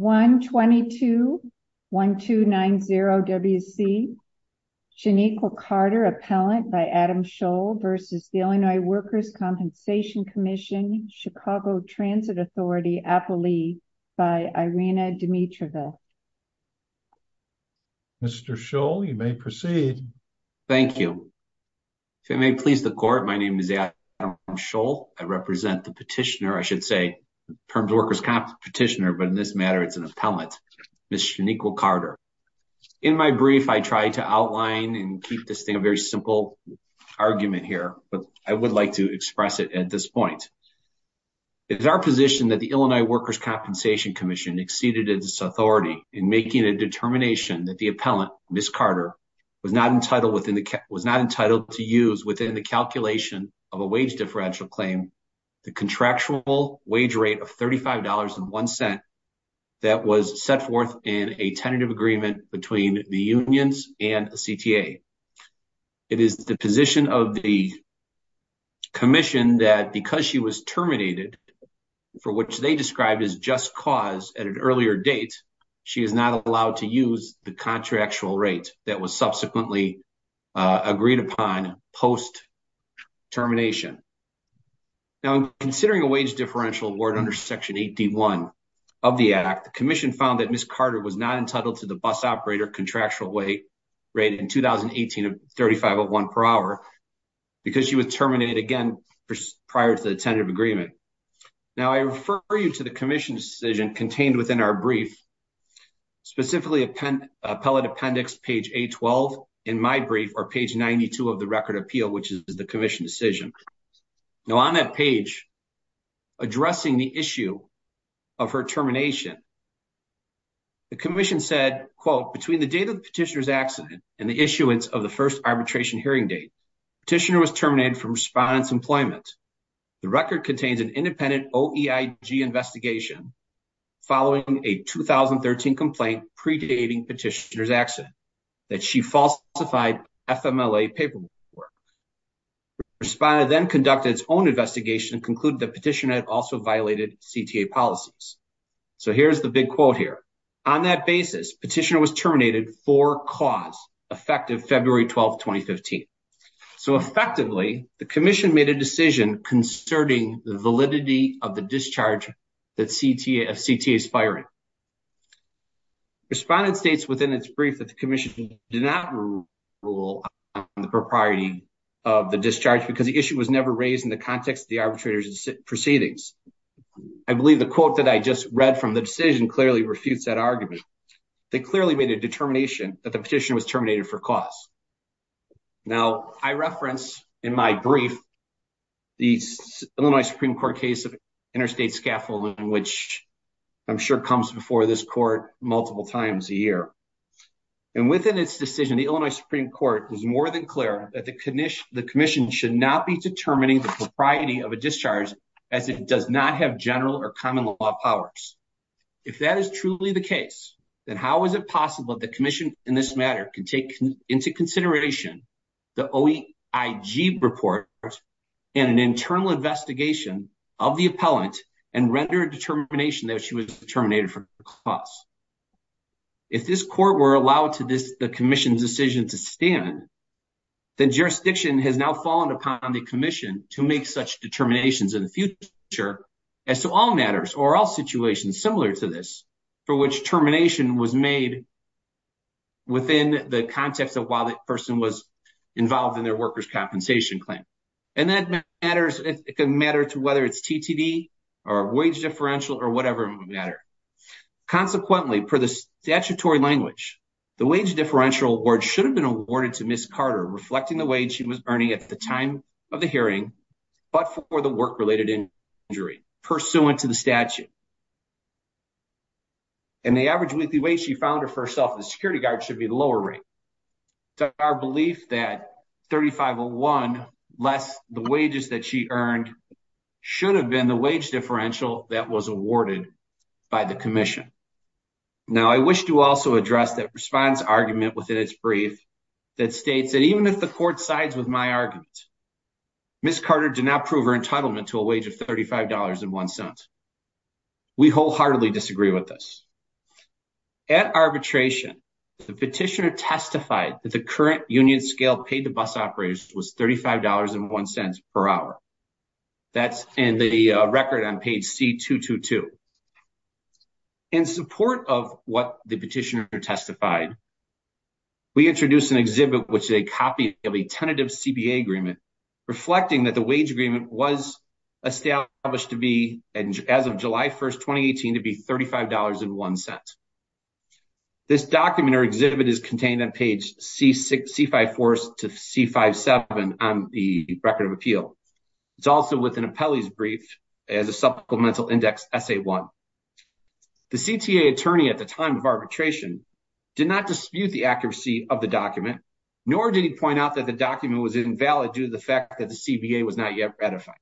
1-22-1290-WC. Janiqua Carter, appellant by Adam Scholl versus the Illinois Workers' Compensation Commission, Chicago Transit Authority, Appali, by Irina Dimitrova. Mr. Scholl, you may proceed. Thank you. If it may please the court, my name is Adam Scholl. I represent the petitioner, I should say, Workers' Competitioner, but in this matter it's an appellant, Ms. Janiqua Carter. In my brief, I try to outline and keep this thing a very simple argument here, but I would like to express it at this point. It is our position that the Illinois Workers' Compensation Commission exceeded its authority in making a determination that the appellant, Ms. Carter, was not entitled to use calculation of a wage differential claim, the contractual wage rate of $35.01 that was set forth in a tentative agreement between the unions and the CTA. It is the position of the commission that because she was terminated, for which they described as just cause at an earlier date, she is not allowed to use the contractual rate that was subsequently agreed upon post-termination. Now, considering a wage differential award under Section 81 of the Act, the commission found that Ms. Carter was not entitled to the bus operator contractual rate in 2018 of $35.01 per hour because she was terminated again prior to the tentative agreement. Now, I refer you to the commission's decision contained within our brief, specifically appellate appendix page 812 in my brief or page 92 of the record appeal, which is the commission decision. Now, on that page, addressing the issue of her termination, the commission said, quote, between the date of the petitioner's accident and the issuance of the first arbitration hearing date, petitioner was terminated from respondent's employment. The record contains an independent OEIG investigation following a 2013 complaint predating petitioner's accident that she falsified FMLA paperwork. Respondent then conducted its own investigation and concluded that petitioner had also violated CTA policies. So here's the big quote here. On that basis, petitioner was terminated for cause, effective February 12th, 2015. So effectively, the commission made a decision concerning the validity of the discharge that CTA is firing. Respondent states within its brief that the commission did not rule on the propriety of the discharge because the issue was never raised in the context of the arbitrator's proceedings. I believe the quote that I just read from the decision clearly refutes that argument. They clearly made a determination that the petition was terminated for cause. Now I reference in my brief, the Illinois Supreme Court case of interstate scaffolding, which I'm sure comes before this court multiple times a year. And within its decision, the Illinois Supreme Court was more than clear that the commission should not be determining the propriety of a discharge as it does not have general or common law powers. If that is truly the case, then how is it possible that the commission in this matter can take into consideration the OIG report and an internal investigation of the appellant and render a determination that she was terminated for cause? If this court were allowed to this, the commission's decision to stand, the jurisdiction has now fallen upon the commission to make such determinations in the future as to all matters or all situations similar to this for which termination was made within the context of while the person was involved in their workers' compensation claim. And that matters, it can matter to whether it's TTD or wage differential or whatever matter. Consequently, per the statutory language, the wage differential award should have been awarded to Ms. Carter, reflecting the wage she was earning at the time of the hearing, but for the work-related injury pursuant to the statute. And the average weekly wage she found for herself at the security guard should be the lower rate. It's our belief that $35.01 less the wages that she earned should have been the wage differential that was awarded by the commission. Now, I wish to also address that response argument within its brief that states that even if the court sides with my argument, Ms. Carter did not prove her entitlement to a wage of $35.01. Ms. Carter was not entitled to a wage of $35.01. We wholeheartedly disagree with this. At arbitration, the petitioner testified that the current union scale paid to bus operators was $35.01 per hour. That's in the record on page C222. In support of what the petitioner testified, we introduced an exhibit which is a copy of a tentative CBA agreement, reflecting that the wage agreement was established to be, as of July 1st, 2018, to be $35.01. This document or exhibit is contained on page C5-4 to C5-7 on the record of appeal. It's also within Appelli's brief as a supplemental index SA-1. The CTA attorney at the time of arbitration did not dispute the accuracy of the document, nor did point out that the document was invalid due to the fact that the CBA was not yet ratified.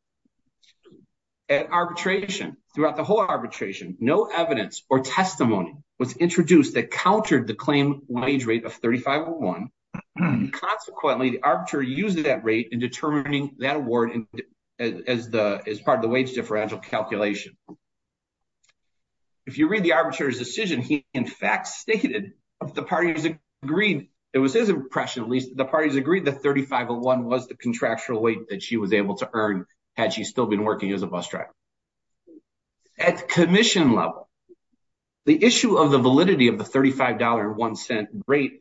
At arbitration, throughout the whole arbitration, no evidence or testimony was introduced that countered the claimed wage rate of $35.01. Consequently, the arbitrator used that rate in determining that award as part of the wage differential calculation. If you read the arbitrator's decision, he in fact stated that the parties agreed, it was his impression at least, the parties agreed that $35.01 was the contractual weight that she was able to earn had she still been working as a bus driver. At commission level, the issue of the validity of the $35.01 rate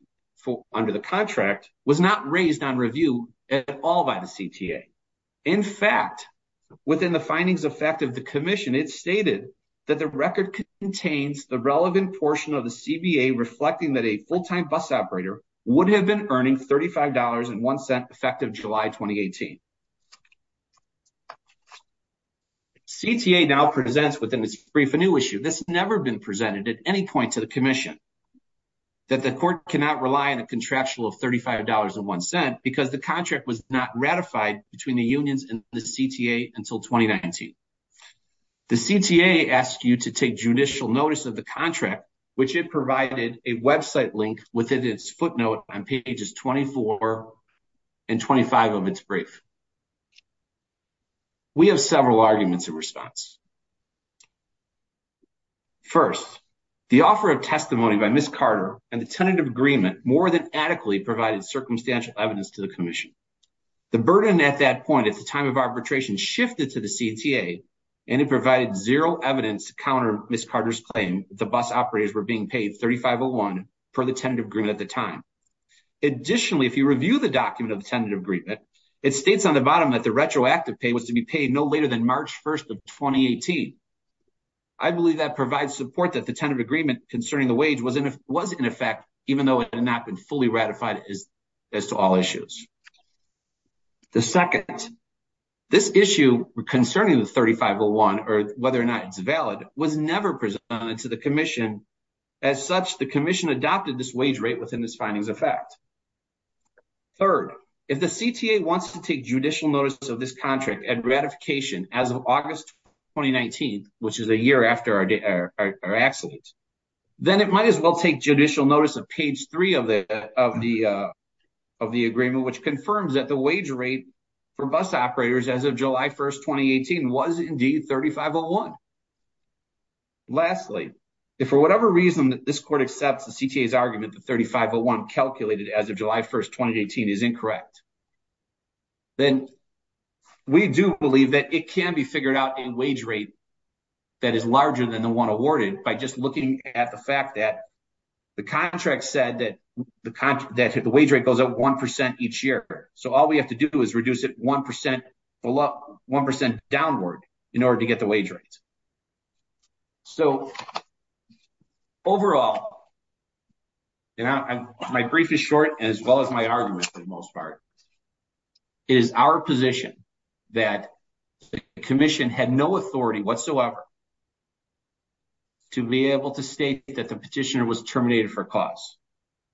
under the contract was not raised on review at all by the CTA. In fact, within the findings of fact of the commission, it stated that the record contains the relevant portion of the CBA reflecting that a full-time bus operator would have been earning $35.01 effective July 2018. CTA now presents within its brief a new issue that's never been presented at any point to the commission, that the court cannot rely on a contractual of $35.01 because the contract was not ratified between the unions and the CTA until 2019. The CTA asked you to take judicial notice of the contract which it provided a website link within its footnote on pages 24 and 25 of its brief. We have several arguments in response. First, the offer of testimony by Ms. Carter and the tentative agreement more than adequately provided circumstantial evidence to the commission. The burden at that point at the time of arbitration shifted to the CTA and it provided zero evidence to counter Ms. Carter's claim that the bus operators were being paid $35.01 for the tentative agreement at the time. Additionally, if you review the document of the tentative agreement, it states on the bottom that the retroactive pay was to be paid no later than March 1st of 2018. I believe that provides support that the tentative agreement concerning the wage was in effect even though it had not been fully ratified as to all issues. The second, this issue concerning the $35.01 or whether or not it's valid was never presented to the commission. As such, the commission adopted this wage rate within this finding's effect. Third, if the CTA wants to take judicial notice of this contract and ratification as of August 2019, which is a year after our accident, then it might as well take judicial notice of page three of the agreement, which confirms that the wage rate for bus operators as of July 1st, 2018 was indeed $35.01. Lastly, if for whatever reason that this court accepts the CTA's argument that $35.01 calculated as of July 1st, 2018 is incorrect, then we do believe that it can be figured out in wage rate that is larger than the one awarded by just looking at the fact that the contract said that the wage rate goes up 1% each year. All we have to do is reduce it 1% downward in order to get the wage rate. Overall, my brief is short as well as my argument for the most part. It is our position that the commission had no authority whatsoever to be able to state that the petitioner was terminated for cause.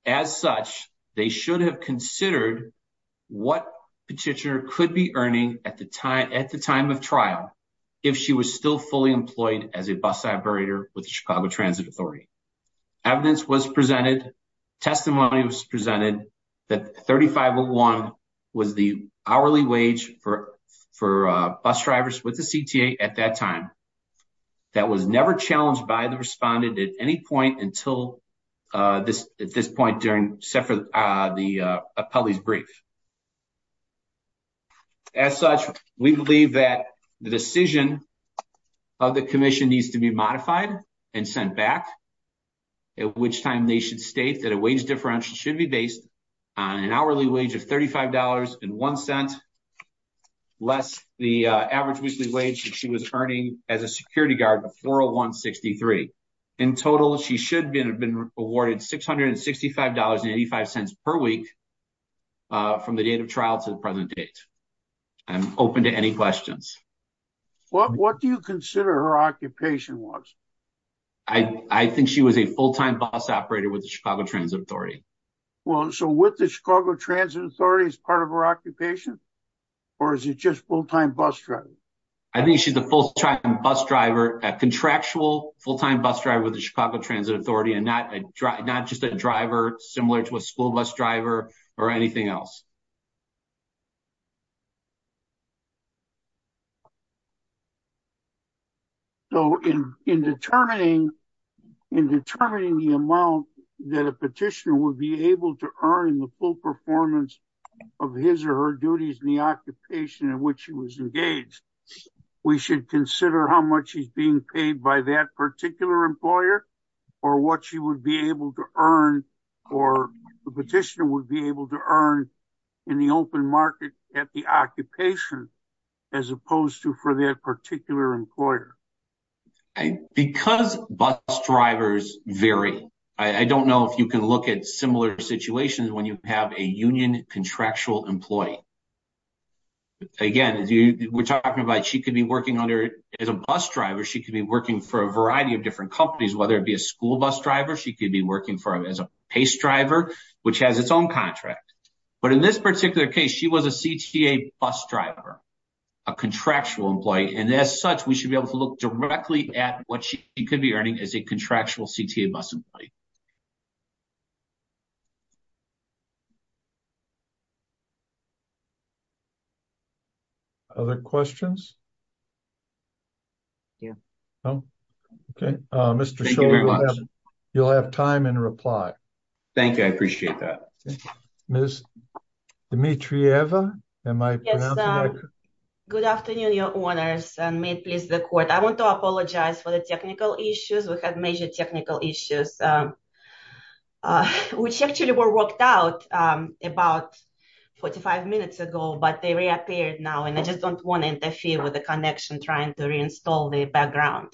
As such, they should have considered what petitioner could be earning at the time of trial if she was still fully employed as a bus operator with the Chicago Transit Authority. Evidence was presented, testimony was presented, that $35.01 was the hourly wage for bus drivers with the CTA at that time. That was never challenged by the respondent at any point until at this point during the appellee's brief. As such, we believe that the decision of the commission needs to be modified and sent back, at which time they should state that a wage differential should be based on an hourly wage of $35.01 less the average weekly wage that she was earning as a security guard of $401.63. In total, she should have been awarded $665.85 per week from the date of trial to the present date. I'm open to any questions. What do you consider her occupation was? I think she was a full-time bus operator with the Chicago Transit Authority. Well, so with the Chicago Transit Authority as part of her occupation, or is it just full-time bus driver? I think she's a full-time bus driver, a contractual full-time bus driver with the Chicago Transit Authority, and not just a driver similar to a school bus driver or anything else. So in determining the amount that a petitioner would be able to earn in the full performance of his or her duties in the occupation in which he was engaged, we should consider how much he's being paid by that particular employer, or what she would be able to earn, or the petitioner would be able to earn in the open market at the occupation as opposed to for that particular employer. Because bus drivers vary, I don't know if you can look at similar situations when you have a union contractual employee. Again, we're talking about she could be working as a bus driver, she could be working for a variety of different companies, whether it be a school bus driver, she could be working as a pace driver, which has its own contract. But in this particular case, she was a CTA bus driver, a contractual employee, and as such, we should be able to look directly at what she could be earning as a contractual CTA bus employee. Other questions? Okay, Mr. Shulman, you'll have time and reply. Thank you, I appreciate that. Ms. Dimitrieva, am I pronouncing that correct? Good afternoon, your honors, and may it please the court. I want to apologize for the technical issues. We had major technical issues, which actually were worked out about 45 minutes ago, but they reappeared now, and I just don't want to interfere with the connection trying to reinstall the background.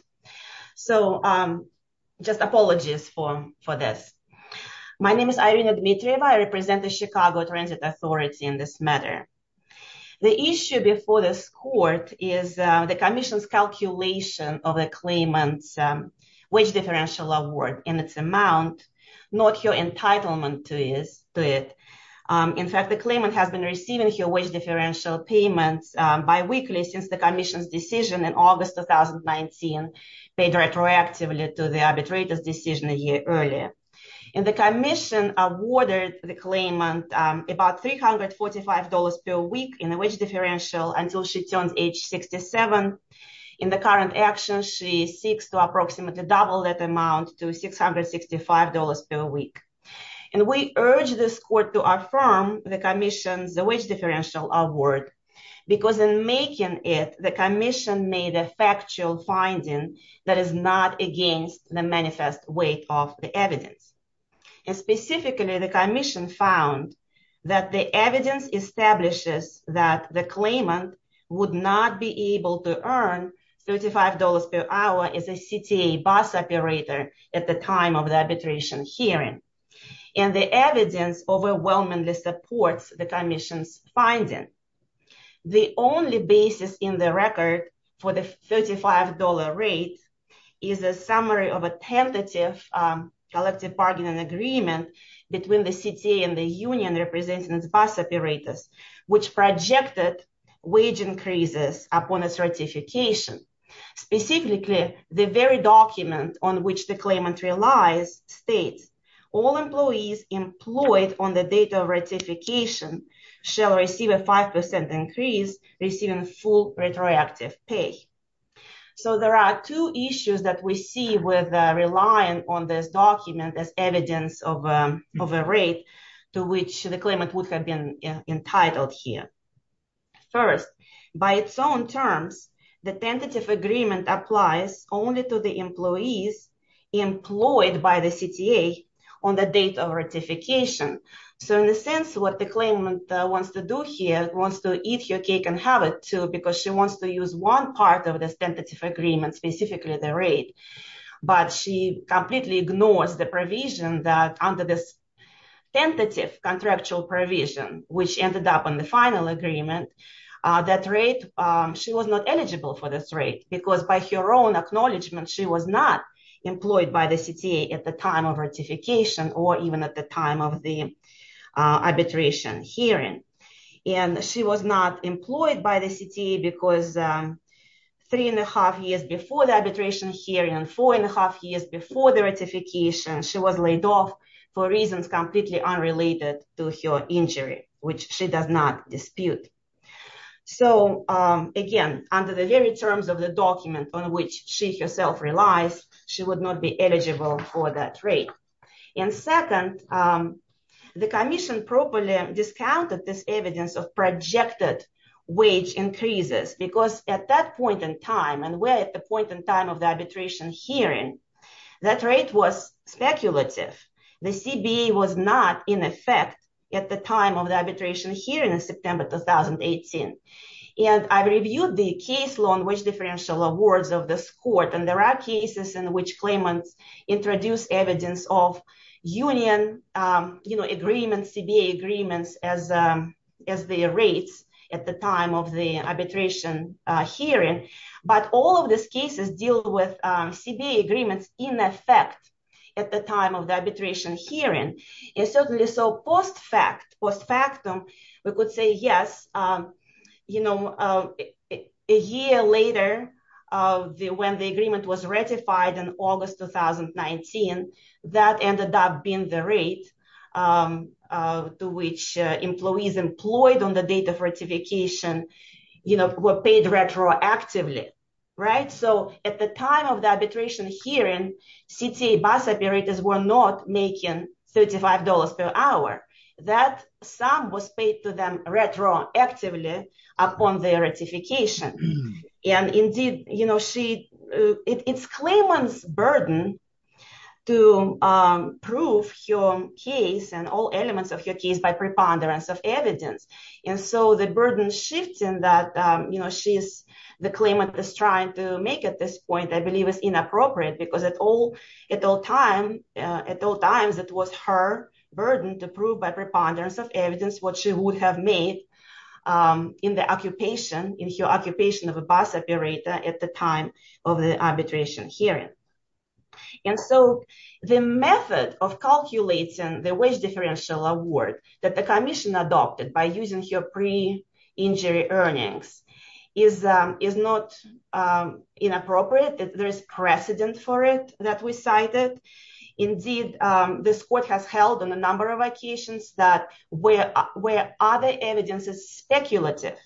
So just apologies for this. My name is Irina Dimitrieva, I represent the Chicago Transit Authority in this matter. The issue before this court is the commission's calculation of the claimant's wage differential award and its amount, not her entitlement to it. In fact, the claimant has been receiving her wage differential payments bi-weekly since the commission's decision in August 2019, paid retroactively to the arbitrator's decision a year earlier. And the commission awarded the claimant about $345 per week in the wage differential until she turns age 67. In the current action, she seeks to approximately double that amount to $665 per week. And we urge this award because in making it, the commission made a factual finding that is not against the manifest weight of the evidence. And specifically, the commission found that the evidence establishes that the claimant would not be able to earn $35 per hour as a CTA bus operator at the time of the commission's finding. The only basis in the record for the $35 rate is a summary of a tentative collective bargaining agreement between the CTA and the union representing its bus operators, which projected wage increases upon its ratification. Specifically, the very document on which the claimant relies states, all employees employed on the date of ratification shall receive a 5% increase receiving full retroactive pay. So there are two issues that we see with relying on this document as evidence of a rate to which the claimant would have been entitled here. First, by its own terms, the tentative agreement applies only to the employees employed by the CTA on the date of ratification. So in a sense, what the claimant wants to do here wants to eat your cake and have it too because she wants to use one part of this tentative agreement, specifically the rate. But she completely ignores the provision that under this contractual provision, which ended up on the final agreement, that rate, she was not eligible for this rate because by her own acknowledgement, she was not employed by the CTA at the time of ratification or even at the time of the arbitration hearing. And she was not employed by the CTA because three and a half years before the arbitration hearing and four and a half years before the ratification, she was laid off for reasons completely unrelated to her injury, which she does not dispute. So again, under the very terms of the document on which she herself relies, she would not be eligible for that rate. And second, the commission properly discounted this evidence of projected wage increases because at that point in time and at the point in time of the arbitration hearing, that rate was speculative. The CBA was not in effect at the time of the arbitration hearing in September 2018. And I reviewed the case law on wage differential awards of this court. And there are cases in which claimants introduce evidence of union agreements, CBA agreements as their rates at the time of the arbitration hearing. But all of these cases deal with CBA agreements in effect at the time of the arbitration hearing. And certainly, so post factum, we could say, yes, a year later when the agreement was ratified in August 2019, that ended up being the rate to which employees employed on the date of ratification were paid retroactively. So at the time of the arbitration hearing, CTA bus operators were not making $35 per hour. That sum was paid to them retroactively upon their ratification. And indeed, it's claimant's burden to prove her case and all shifts in that she is, the claimant is trying to make at this point, I believe is inappropriate because at all times, it was her burden to prove by preponderance of evidence what she would have made in the occupation, in her occupation of a bus operator at the time of the arbitration hearing. And so the method of calculating the wage differential award that the commission adopted by using her pre-injury earnings is not inappropriate. There's precedent for it that we cited. Indeed, this court has held on a number of occasions that where other evidence is speculative,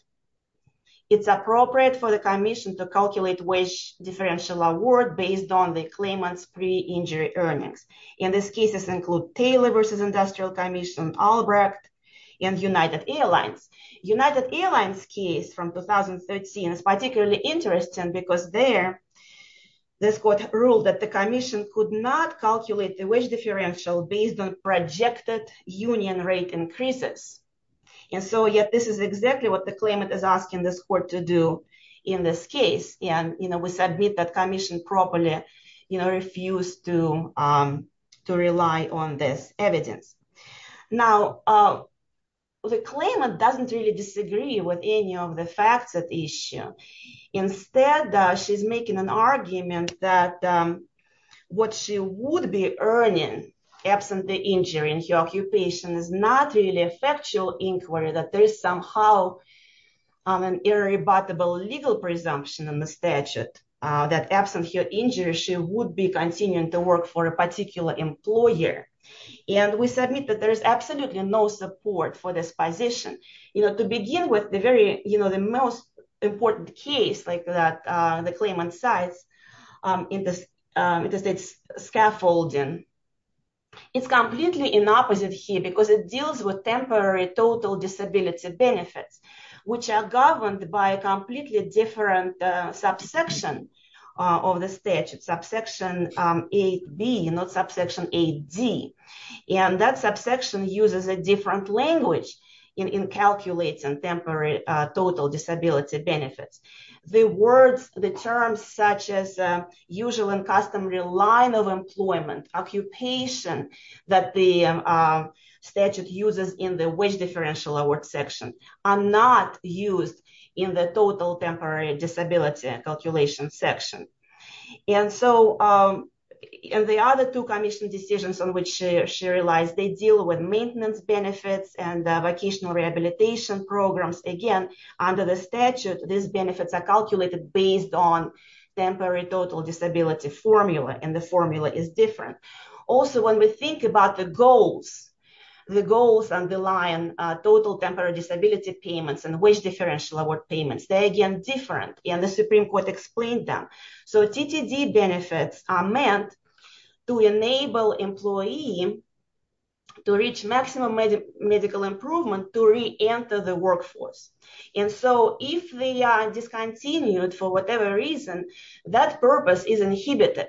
it's appropriate for the commission to calculate wage differential award based on the claimant's pre-injury earnings. And these cases include Taylor versus Industrial Commission Albrecht and United Airlines. United Airlines case from 2013 is particularly interesting because there, this court ruled that the commission could not calculate the wage differential based on projected union rate increases. And so yet this is exactly what the claimant is asking this court to do in this case. And we submit that commission properly refused to rely on this evidence. Now, the claimant doesn't really disagree with any of the facts at issue. Instead, she's making an argument that what she would be earning absent the injury in her occupation is not really a factual inquiry, that there is somehow an irrebuttable legal presumption in the statute that absent her injury, she would be continuing to work for a particular employer. And we submit that there is absolutely no support for this position. To begin with, the most important case like that the claimant cites in this scaffolding, it's completely in opposite here because it deals with temporary total disability benefits, which are governed by a completely different subsection of the statute, subsection 8B, not subsection 8D. And that subsection uses a different language in calculating temporary total disability benefits. The words, the terms such as usual and customary line of employment, occupation that the statute uses in the wage differential award section are not used in the commission decisions on which she relies. They deal with maintenance benefits and vocational rehabilitation programs. Again, under the statute, these benefits are calculated based on temporary total disability formula, and the formula is different. Also, when we think about the goals underlying total temporary disability payments and wage differential award payments, they're again different, and the Supreme Court explained them. So, TTD benefits are meant to enable employee to reach maximum medical improvement to re-enter the workforce. And so, if they are discontinued for whatever reason, that purpose is inhibited.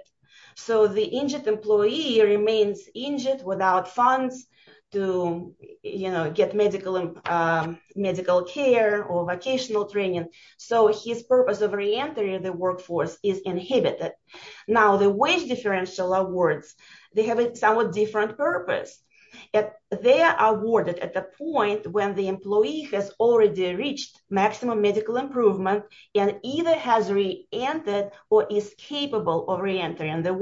So, the injured employee remains injured without funds to, you know, get medical care or vocational training, so his purpose of re-entering the workforce is inhibited. Now, the wage differential awards, they have a somewhat different purpose. They are awarded at the point when the employee has already reached maximum medical improvement and either has re-entered or is capable of re-entering the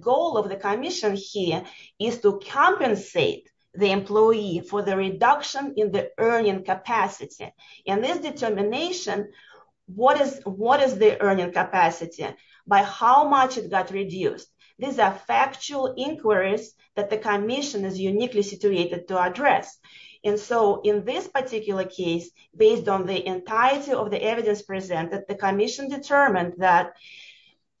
goal of the commission here is to compensate the employee for the reduction in the earning capacity. In this determination, what is the earning capacity by how much it got reduced? These are factual inquiries that the commission is uniquely situated to address. And so, in this particular case, based on the entirety of the evidence presented, the commission determined that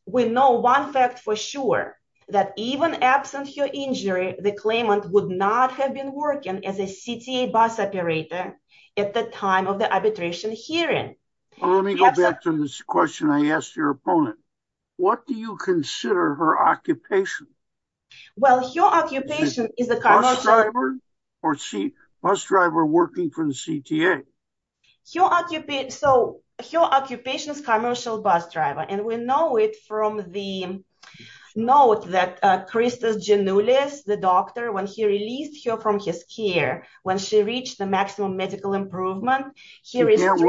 we know one fact for sure, that even absent her injury, the claimant would not have been working as a CTA bus operator at the time of the arbitration hearing. Let me go back to this question I asked your opponent. What do you consider her occupation? Well, her occupation is a bus driver or bus driver working for the CTA. So, her occupation is a commercial bus driver, and we know it from the note that Christos Giannoulias, the doctor, when he released her from his care, when she reached the maximum medical improvement, he restricted her from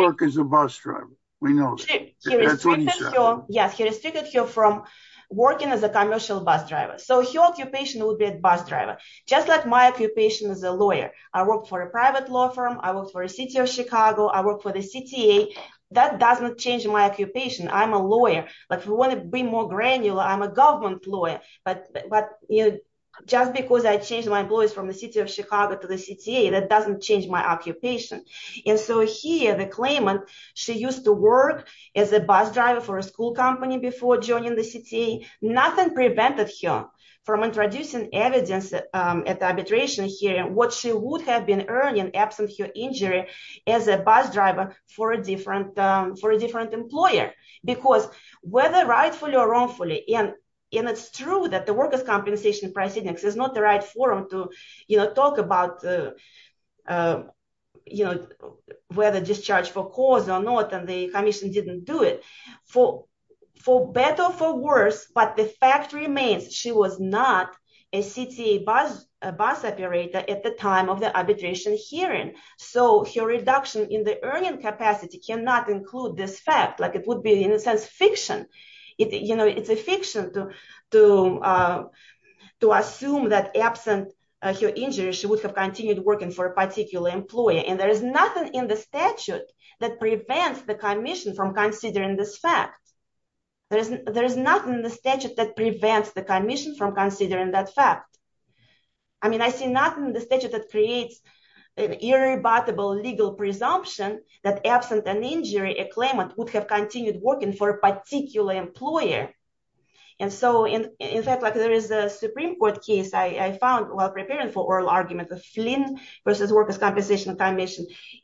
working as a commercial bus driver. So, her occupation would be a bus driver, just like my occupation as a lawyer. I work for a private law firm, I work for the city of Chicago, I work for the CTA. That doesn't change my occupation. I'm a lawyer. If we want to be more granular, I'm a government lawyer. But just because I changed my employees from the city of Chicago to the CTA, that doesn't change my occupation. And so, here, the claimant, she used to work as a bus driver for a school company before joining the CTA. Nothing prevented her from introducing evidence at the arbitration hearing, what she would have been earning absent her injury as a bus driver for a different employer. Because whether rightfully or wrongfully, and it's true that the workers' compensation proceedings is not the right forum to talk about whether discharge for cause or not, and the commission didn't do it, for better or for worse, but the fact remains, she was not a CTA bus operator at the time of the arbitration hearing. So, her reduction in the earning capacity cannot include this fact. It would be, in a sense, fiction. It's a fiction to assume that absent her injury, she would have continued working for a particular employer. And there is nothing in the statute that prevents the commission from considering this fact. There is nothing in the statute that prevents the commission from considering that fact. I mean, I see nothing in the statute that creates an irrebuttable legal presumption that absent an injury, a claimant would have continued working for a particular employer. And so, in fact, like there is a Supreme Court case I found while preparing for oral argument of Flynn versus workers' compensation,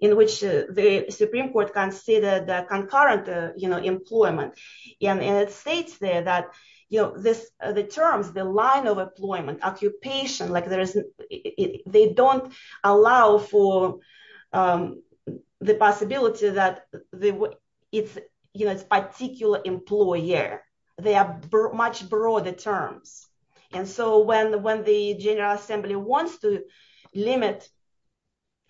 in which the Supreme Court considered concurrent employment. And it states there that the terms, the line of employment, occupation, they don't allow for the possibility that it's particular employer. They are much broader terms. And so, when the General Assembly wants to limit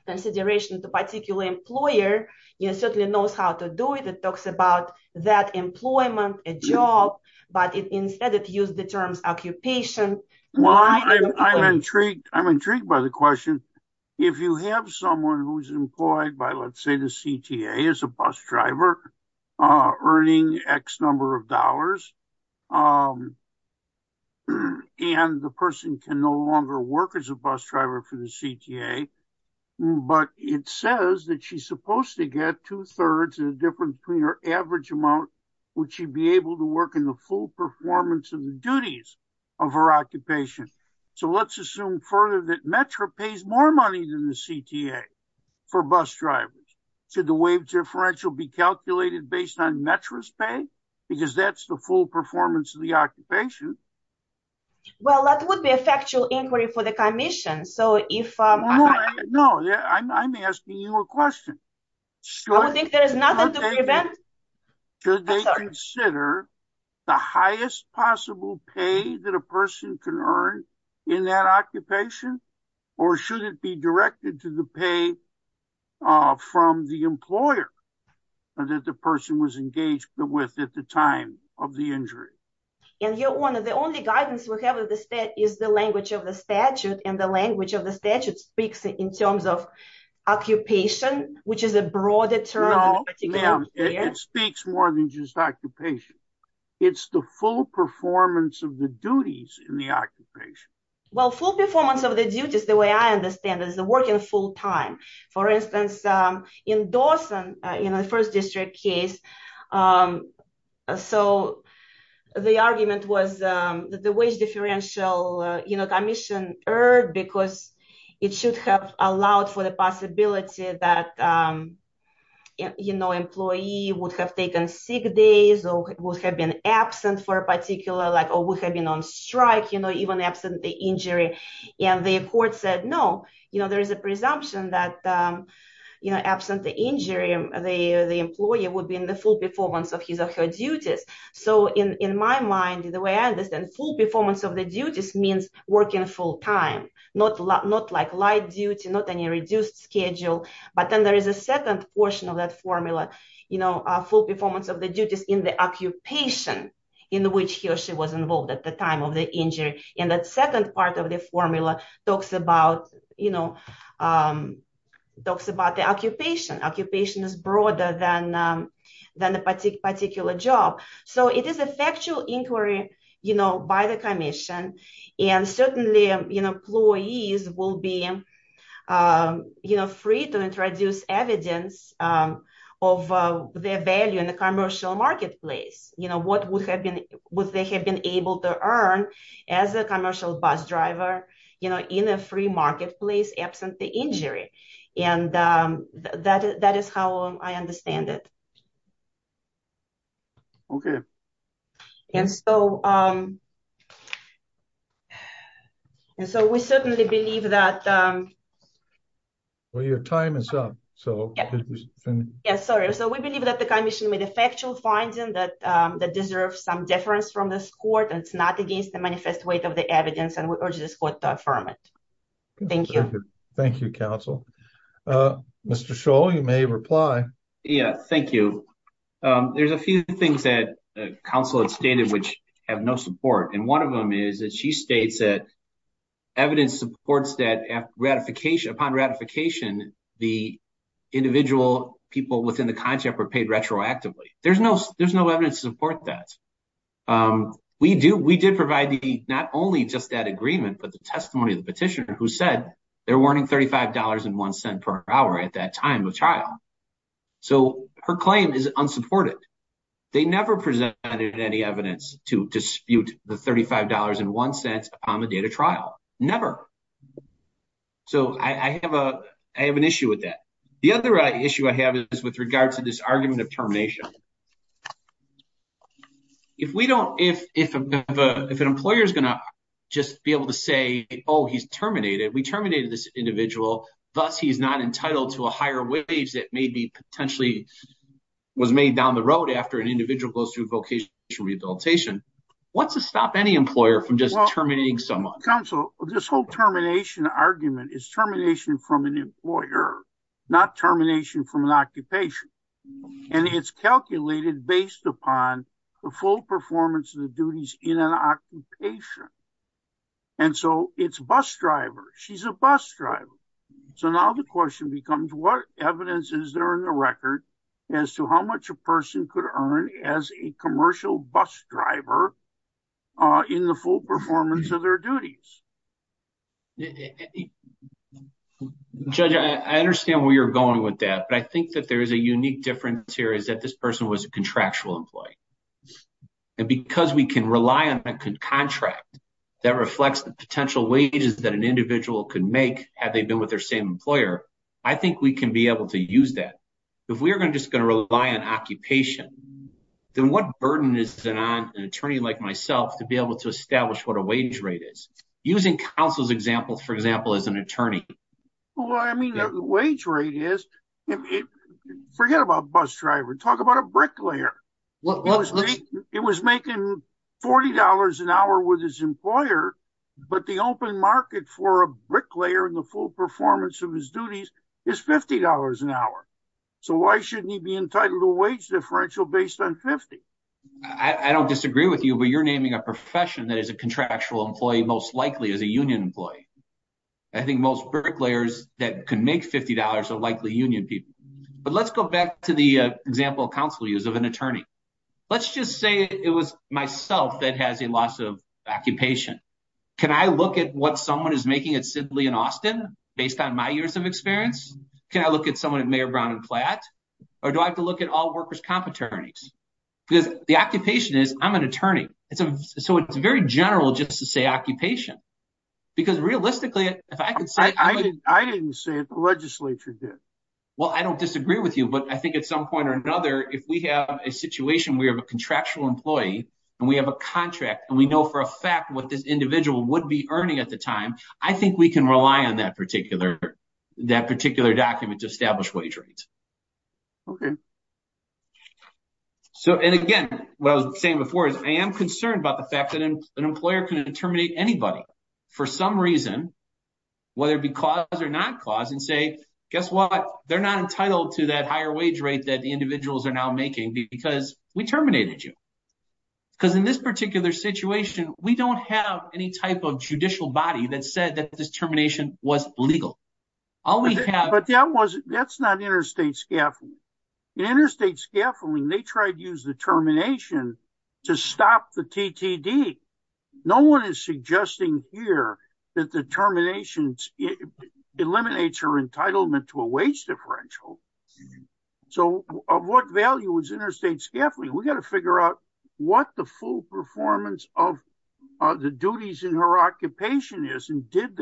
consideration to particular employer, it certainly knows how to do it. It talks about that employment, a job, but instead it used the terms occupation. I'm intrigued. I'm intrigued by the question. If you have someone who's employed by, let's say, the CTA as a bus driver, earning X number of dollars, and the person can no longer work as a bus driver for the CTA, but it says that she's supposed to get two-thirds of the difference between her average amount which she'd be able to work in the full performance of the duties of her occupation. So, let's assume further that Metro pays more money than the CTA for bus drivers. Should the waived differential be calculated based on Metro's pay? Because that's the full performance of the occupation. Well, that would be a factual inquiry for the commission. So, if... No, I'm asking you a question. I don't think there is nothing to prevent... Could they consider the highest possible pay that a person can earn in that occupation? Or should it be directed to the pay from the employer that the person was engaged with at the time of the injury? And the only guidance we have is the language of the statute, and the language of the statute speaks in terms of occupation, which is a broader term. No, it speaks more than just occupation. It's the full performance of the duties in the occupation. Well, full performance of the duties, the way I understand it, is the work in full time. For instance, in Dawson, in the first district case, so the argument was that the wage differential commission earned because it should have allowed for the possibility that employee would have taken sick days or would have been absent for injury. And the court said, no, there is a presumption that absent the injury, the employee would be in the full performance of his or her duties. So, in my mind, the way I understand, full performance of the duties means working full time, not like light duty, not any reduced schedule. But then there is a second portion of that formula, full performance of the duties in the part of the formula talks about the occupation. Occupation is broader than the particular job. So, it is a factual inquiry by the commission. And certainly, employees will be free to introduce evidence of their value in the commercial marketplace. What would they have been able to earn as a commercial bus driver in a free marketplace, absent the injury. And that is how I understand it. OK. And so, we certainly believe that. Well, your time is up. Yeah, sorry. So, we believe that the commission made a factual finding that deserves some deference from this court and it is not against the manifest weight of the evidence and we urge this court to affirm it. Thank you. Thank you, counsel. Mr. Scholl, you may reply. Yeah, thank you. There is a few things that counsel had stated which have no support. And one of them is that she states that evidence supports that upon ratification, the individual people within the contract were paid retroactively. There is no evidence to support that. We did provide not only just that agreement, but the testimony of the petitioner who said they were earning $35.01 per hour at that time of trial. So, her claim is unsupported. They never presented any evidence to dispute the $35.01 upon the date of trial. Never. So, I have an issue with that. The other issue I have is with regard to this argument of termination. If an employer is going to just be able to say, oh, he's terminated, we terminated this individual, thus he's not entitled to a higher wage that maybe potentially was made down the road after an individual goes through vocational rehabilitation, what's to stop any employer from just terminating someone? Counsel, this whole termination argument is termination from an employer, not termination from an occupation. And it's calculated based upon the full performance of the duties in an occupation. And so, it's bus driver. She's a bus driver. So, now the question becomes what evidence is there in the record as to how much a person could earn as a commercial bus driver in the full performance of their duties? Judge, I understand where you're going with that. But I think that there is a unique difference here is that this person was a contractual employee. And because we can rely on a contract that reflects the potential wages that an individual could make had they been with their same employer, I think we can be able to use that. If we're just going to rely on occupation, then what burden is it on an attorney like myself to be able to establish what a wage rate is? Using counsel's example, for example, as an attorney. Well, I mean, the wage rate is, forget about bus driver, talk about a bricklayer. It was making $40 an hour with his employer, but the open market for a bricklayer in the full performance of his duties is $50 an hour. So, why shouldn't he be entitled to wage differential based on 50? I don't disagree with you, but you're naming a profession that is a contractual employee most likely as a union employee. I think most bricklayers that can make $50 are likely union people. But let's go back to the example counsel used of an attorney. Let's just say it was myself that has a loss of occupation. Can I look at what someone is making at Sidley and Austin based on my years of experience? Can I look at someone at Mayor Brown and Platt? Or do I have to look at all workers' comp attorneys? Because the occupation is I'm an attorney. So, it's very general just to say occupation. Because realistically, if I could say- I didn't say it, the legislature did. Well, I don't disagree with you, but I think at some point or another, if we have a situation where we have a contractual employee and we have a contract and we know for a fact what this individual would be earning at the time, I think we can rely on that particular document to establish wage rates. And again, what I was saying before is I am concerned about the fact that an employer can terminate anybody for some reason, whether it be clause or not clause, and say, guess what? They're not entitled to that higher wage rate that the individuals are now making because we terminated you. Because in this particular situation, we have any type of judicial body that said that this termination was legal. But that's not interstate scaffolding. In interstate scaffolding, they tried to use the termination to stop the TTD. No one is suggesting here that the termination eliminates your entitlement to a wage differential. So, of what value is interstate scaffolding? We got to figure what the full performance of the duties in her occupation is. And did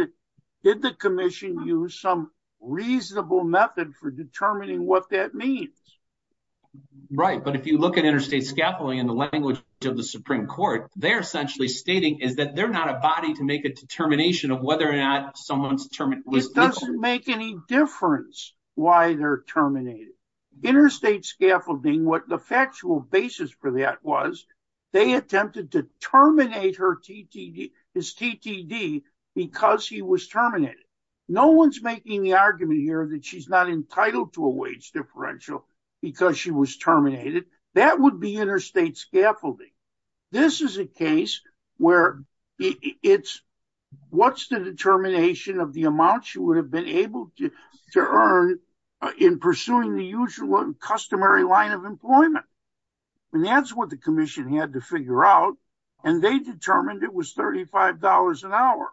the commission use some reasonable method for determining what that means? Right. But if you look at interstate scaffolding in the language of the Supreme Court, they're essentially stating is that they're not a body to make a determination of whether or not someone's terminated. It doesn't make any difference why they're terminated. Interstate scaffolding, what the factual basis for that was, they attempted to terminate his TTD because he was terminated. No one's making the argument here that she's not entitled to a wage differential because she was terminated. That would be interstate scaffolding. This is a case where it's what's the determination of the amount she would have been able to earn in pursuing the usual customary line of employment. And that's what the commission had to figure out. And they determined it was $35 an hour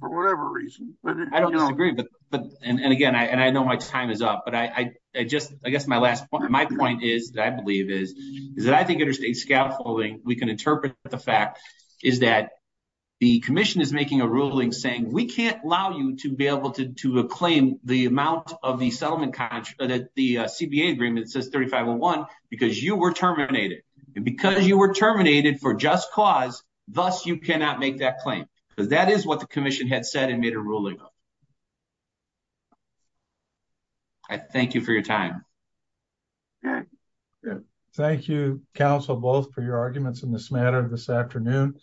for whatever reason. I don't disagree. But, and again, I know my time is up, but I just, I guess my last point, my point is that I believe is that I think interstate scaffolding, we can interpret the fact is that the commission is able to claim the amount of the settlement contract that the CBA agreement says $35.01 because you were terminated. And because you were terminated for just cause, thus you cannot make that claim. Because that is what the commission had said and made a ruling. I thank you for your time. Thank you, counsel, both for your arguments in this matter this afternoon.